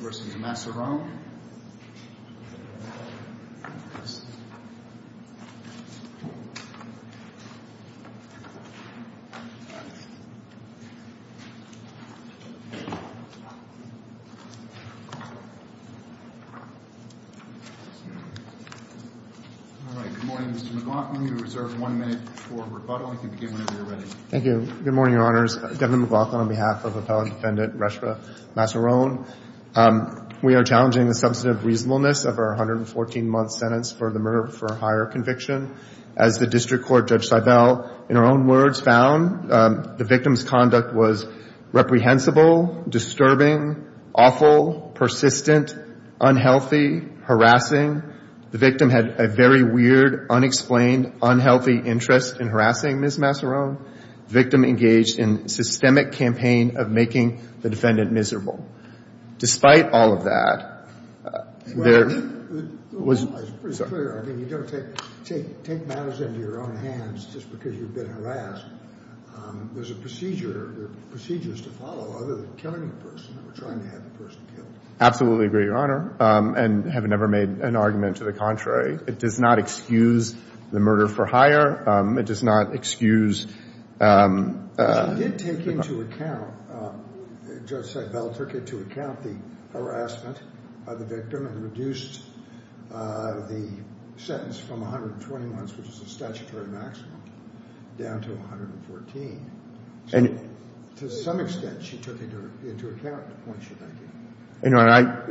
Good morning, Mr. McLaughlin. We reserve one minute for rebuttal. You can begin whenever you're ready. Thank you. Good morning, Your Honors. Devin McLaughlin on behalf of Appellant Defendant Reshfa Massarone, we are challenging the substantive reasonableness of our 114-month sentence for the murder for a higher conviction. As the District Court Judge Seibel in her own words found the victim's conduct was reprehensible, disturbing, awful, persistent, unhealthy, harassing. The victim had a very weird, unexplained, unhealthy interest in harassing Ms. Massarone. Victim engaged in systemic campaign of making the defendant miserable. Despite all of that, there was... It's pretty clear. I mean, you don't take matters into your own hands just because you've been harassed. There's a procedure, there are procedures to follow other than killing a person or trying to have the person killed. Absolutely agree, Your Honor. And have never made an argument to the contrary. It does not excuse the murder for higher. It does not excuse the murder for lower. It does not excuse the murder for higher. And I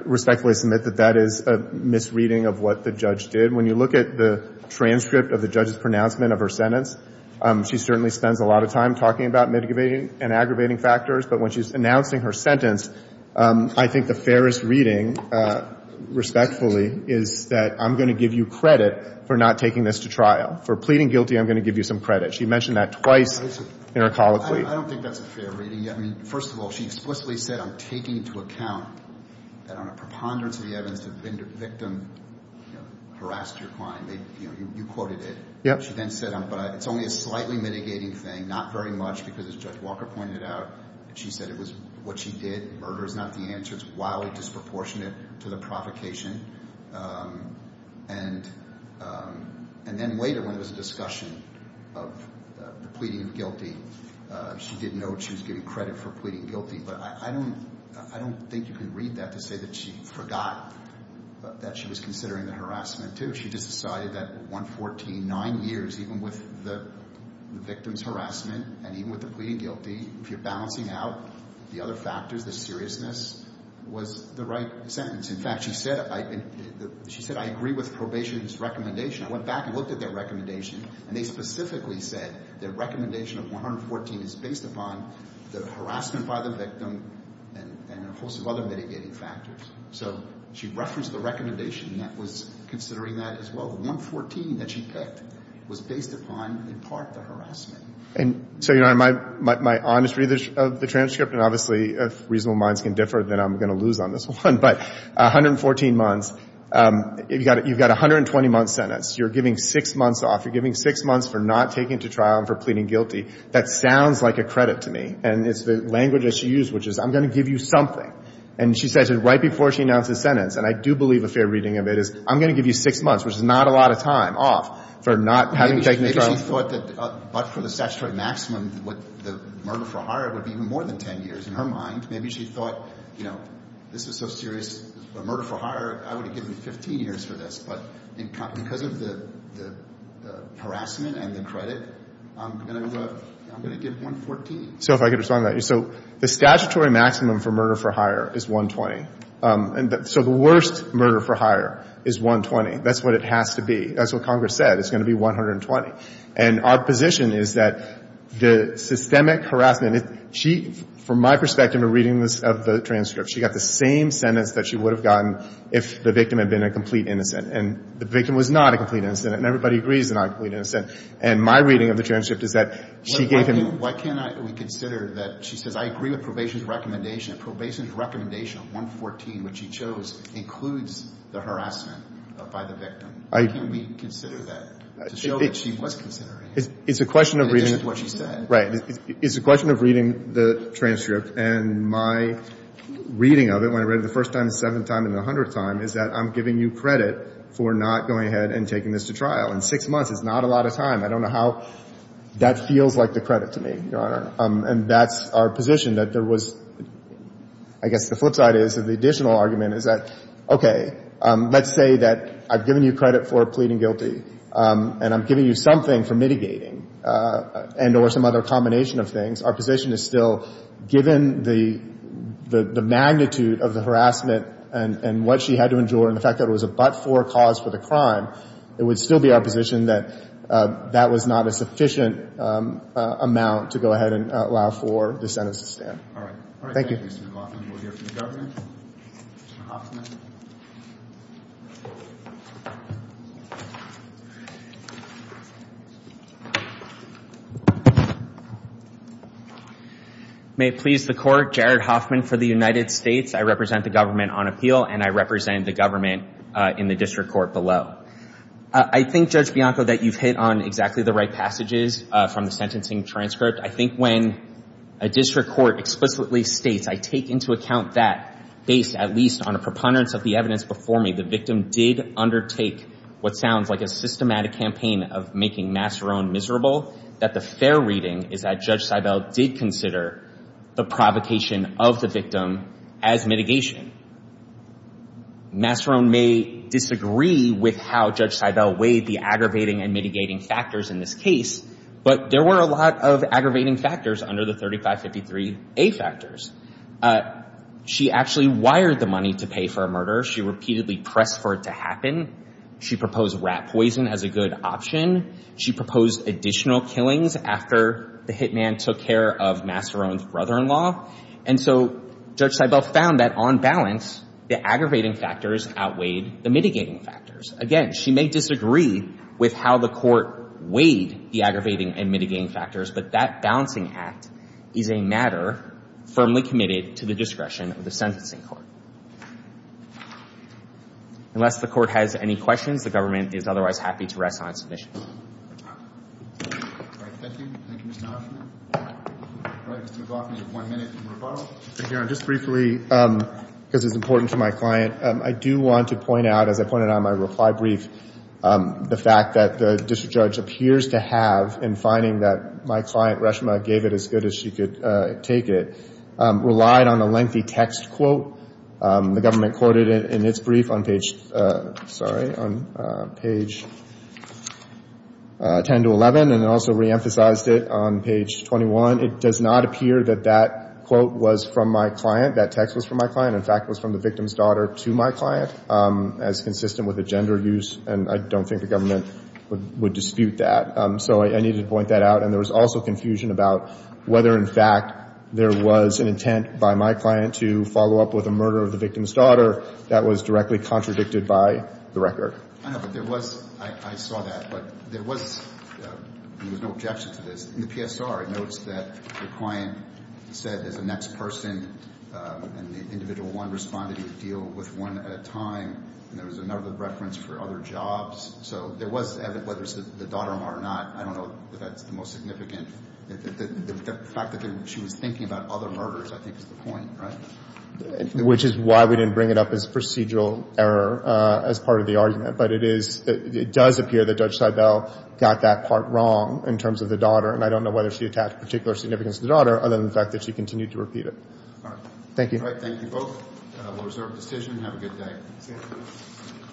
respectfully submit that that is a misreading of what the judge did. When you look at the transcript of the judge's pronouncement of her sentence, she certainly spends a lot of time talking about mitigating and aggravating factors, but when she's announcing her sentence, I think the fairest reading, respectfully, is that I'm going to give you credit for not taking this to trial. For pleading guilty, I'm going to give you some credit. She mentioned that twice intercolloquially. I don't think that's a fair reading. I mean, first of all, she explicitly said, I'm taking into account that on a preponderance of the evidence the victim harassed her client. You quoted it. She then said, but it's only a slightly mitigating thing, not very much, because as Judge Walker pointed out, she said it was what she did. Murder is not the answer. It's wildly disproportionate to the provocation. And then later when there was a discussion of the pleading guilty, she did note she was giving credit for pleading guilty, but I don't think you can read that to say that she forgot that she was considering the harassment, too. She just decided that 114, nine years, even with the victim's harassment and even with the pleading guilty, if you're balancing out the other factors, the seriousness was the right sentence. In fact, she said, I agree with probation's recommendation. I went back and looked at their recommendation, and they specifically said their recommendation of 114 is based upon the harassment by the victim and a host of other mitigating factors. So she referenced the recommendation that was considering that as well. The 114 that she picked was based upon, in part, the harassment. And so, Your Honor, my honest read of the transcript, and obviously, if reasonable minds can differ, then I'm going to lose on this one, but 114 months, you've got 120-month sentence. You're giving six months off. You're giving six months for not taking to trial and for pleading guilty. That sounds like a credit to me, and it's the language that she used, which is, I'm going to give you something. And she said it right before she announced the sentence, and I do believe a fair reading of it, is, I'm going to give you six months, which is not a lot of time off for not having taken to trial. Maybe she thought that, but for the statutory maximum, the murder for hire would be even more than 10 years, in her mind. Maybe she thought, you know, this is so serious, a murder for hire, I would have given 15 years for this, but because of the harassment and the credit, I'm going to give 114. So if I could respond to that. So the statutory maximum for murder for hire is 120. So the worst murder for hire is 120. That's what it has to be. That's what Congress said. It's going to be 120. And our position is that the systemic harassment if she, from my perspective in reading this, of the transcript, she got the same sentence that she would have gotten if the victim had been a complete innocent. And the victim was not a complete innocent, and everybody agrees they're not a complete innocent. And my reading of the transcript is that she gave him – Why can't we consider that, she says, I agree with probation's recommendation. Probation's recommendation of 114, which she chose, includes the harassment by the victim. Why can't we consider that to show that she was considering it, in addition to what she said? Right. It's a question of reading the transcript, and my reading of it, when I read it the first time, the seventh time, and the hundredth time, is that I'm giving you credit for not going ahead and taking this to trial. In six months, it's not a lot of time. I don't know how that feels like the credit to me, Your Honor. And that's our position, that there was – I guess the flip side is, the additional argument is that, okay, let's say that I've given you credit for pleading guilty, and I'm giving you something for mitigating and or some other combination of things. Our position is still, given the magnitude of the harassment and what she had to endure and the fact that it was a but-for cause for the crime, it would still be our position that that was not a sufficient amount to go ahead and allow for the sentence to stand. All right. Thank you. All right. Thank you, Mr. Hoffman. We'll hear from the government. Mr. Hoffman. May it please the Court, Jared Hoffman for the United States. I represent the government on appeal, and I represent the government in the district court below. I think, Judge Bianco, that you've hit on exactly the right passages from the sentencing transcript. I think when a district court explicitly states, I take into account that, based at least on a preponderance of the evidence before me, the victim did undertake what sounds like a systematic campaign of making Masseron miserable, that the fair reading is that Judge Seibel did consider the provocation of the victim as mitigation. Masseron may disagree with how Judge Seibel weighed the aggravating and mitigating factors in this case, but there were a lot of aggravating factors under the 3553A factors. She actually wired the money to pay for a murder. She repeatedly pressed for it to happen. She proposed rat poison as a good option. She proposed additional killings after the hitman took care of Masseron's mother-in-law. And so Judge Seibel found that, on balance, the aggravating factors outweighed the mitigating factors. Again, she may disagree with how the Court weighed the aggravating and mitigating factors, but that balancing act is a matter firmly committed to the discretion of the sentencing court. Unless the Court has any questions, the government is otherwise happy to rest on its submissions. All right. Thank you. Thank you, Mr. Hoffman. All right. Mr. McLaughlin, you have one minute in rebuttal. Thank you, Your Honor. Just briefly, because it's important to my client, I do want to point out, as I pointed out in my reply brief, the fact that the district judge appears to have, in finding that my client, Reshma, gave it as good as she could take it, relied on a lengthy text quote. The government quoted it in its brief on page, sorry, on page 10 to 11, and also reemphasized it on page 21. It does not appear that that quote was from my client, that text was from my client. In fact, it was from the victim's daughter to my client, as consistent with the gender use. And I don't think the government would dispute that. So I need to point that out. And there was also confusion about whether, in fact, there was an intent by my client to follow up with a murder of the victim's daughter that was directly contradicted by the record. I know, but there was, I saw that, but there was, there was no objection to this. In the PSR, it notes that the client said, as a next person, and the individual one responded, he would deal with one at a time, and there was another reference for other jobs. So there was, whether it's the daughter or not, I don't know that that's the most significant. The fact that she was thinking about other murders, I think, is the point, right? Which is why we didn't bring it up as procedural error as part of the argument. But it is, it does appear that Judge Seibel got that part wrong in terms of the daughter. And I don't know whether she attached particular significance to the daughter, other than the fact that she continued to repeat it. All right. Thank you. All right, thank you both. We'll reserve the decision and have a good day.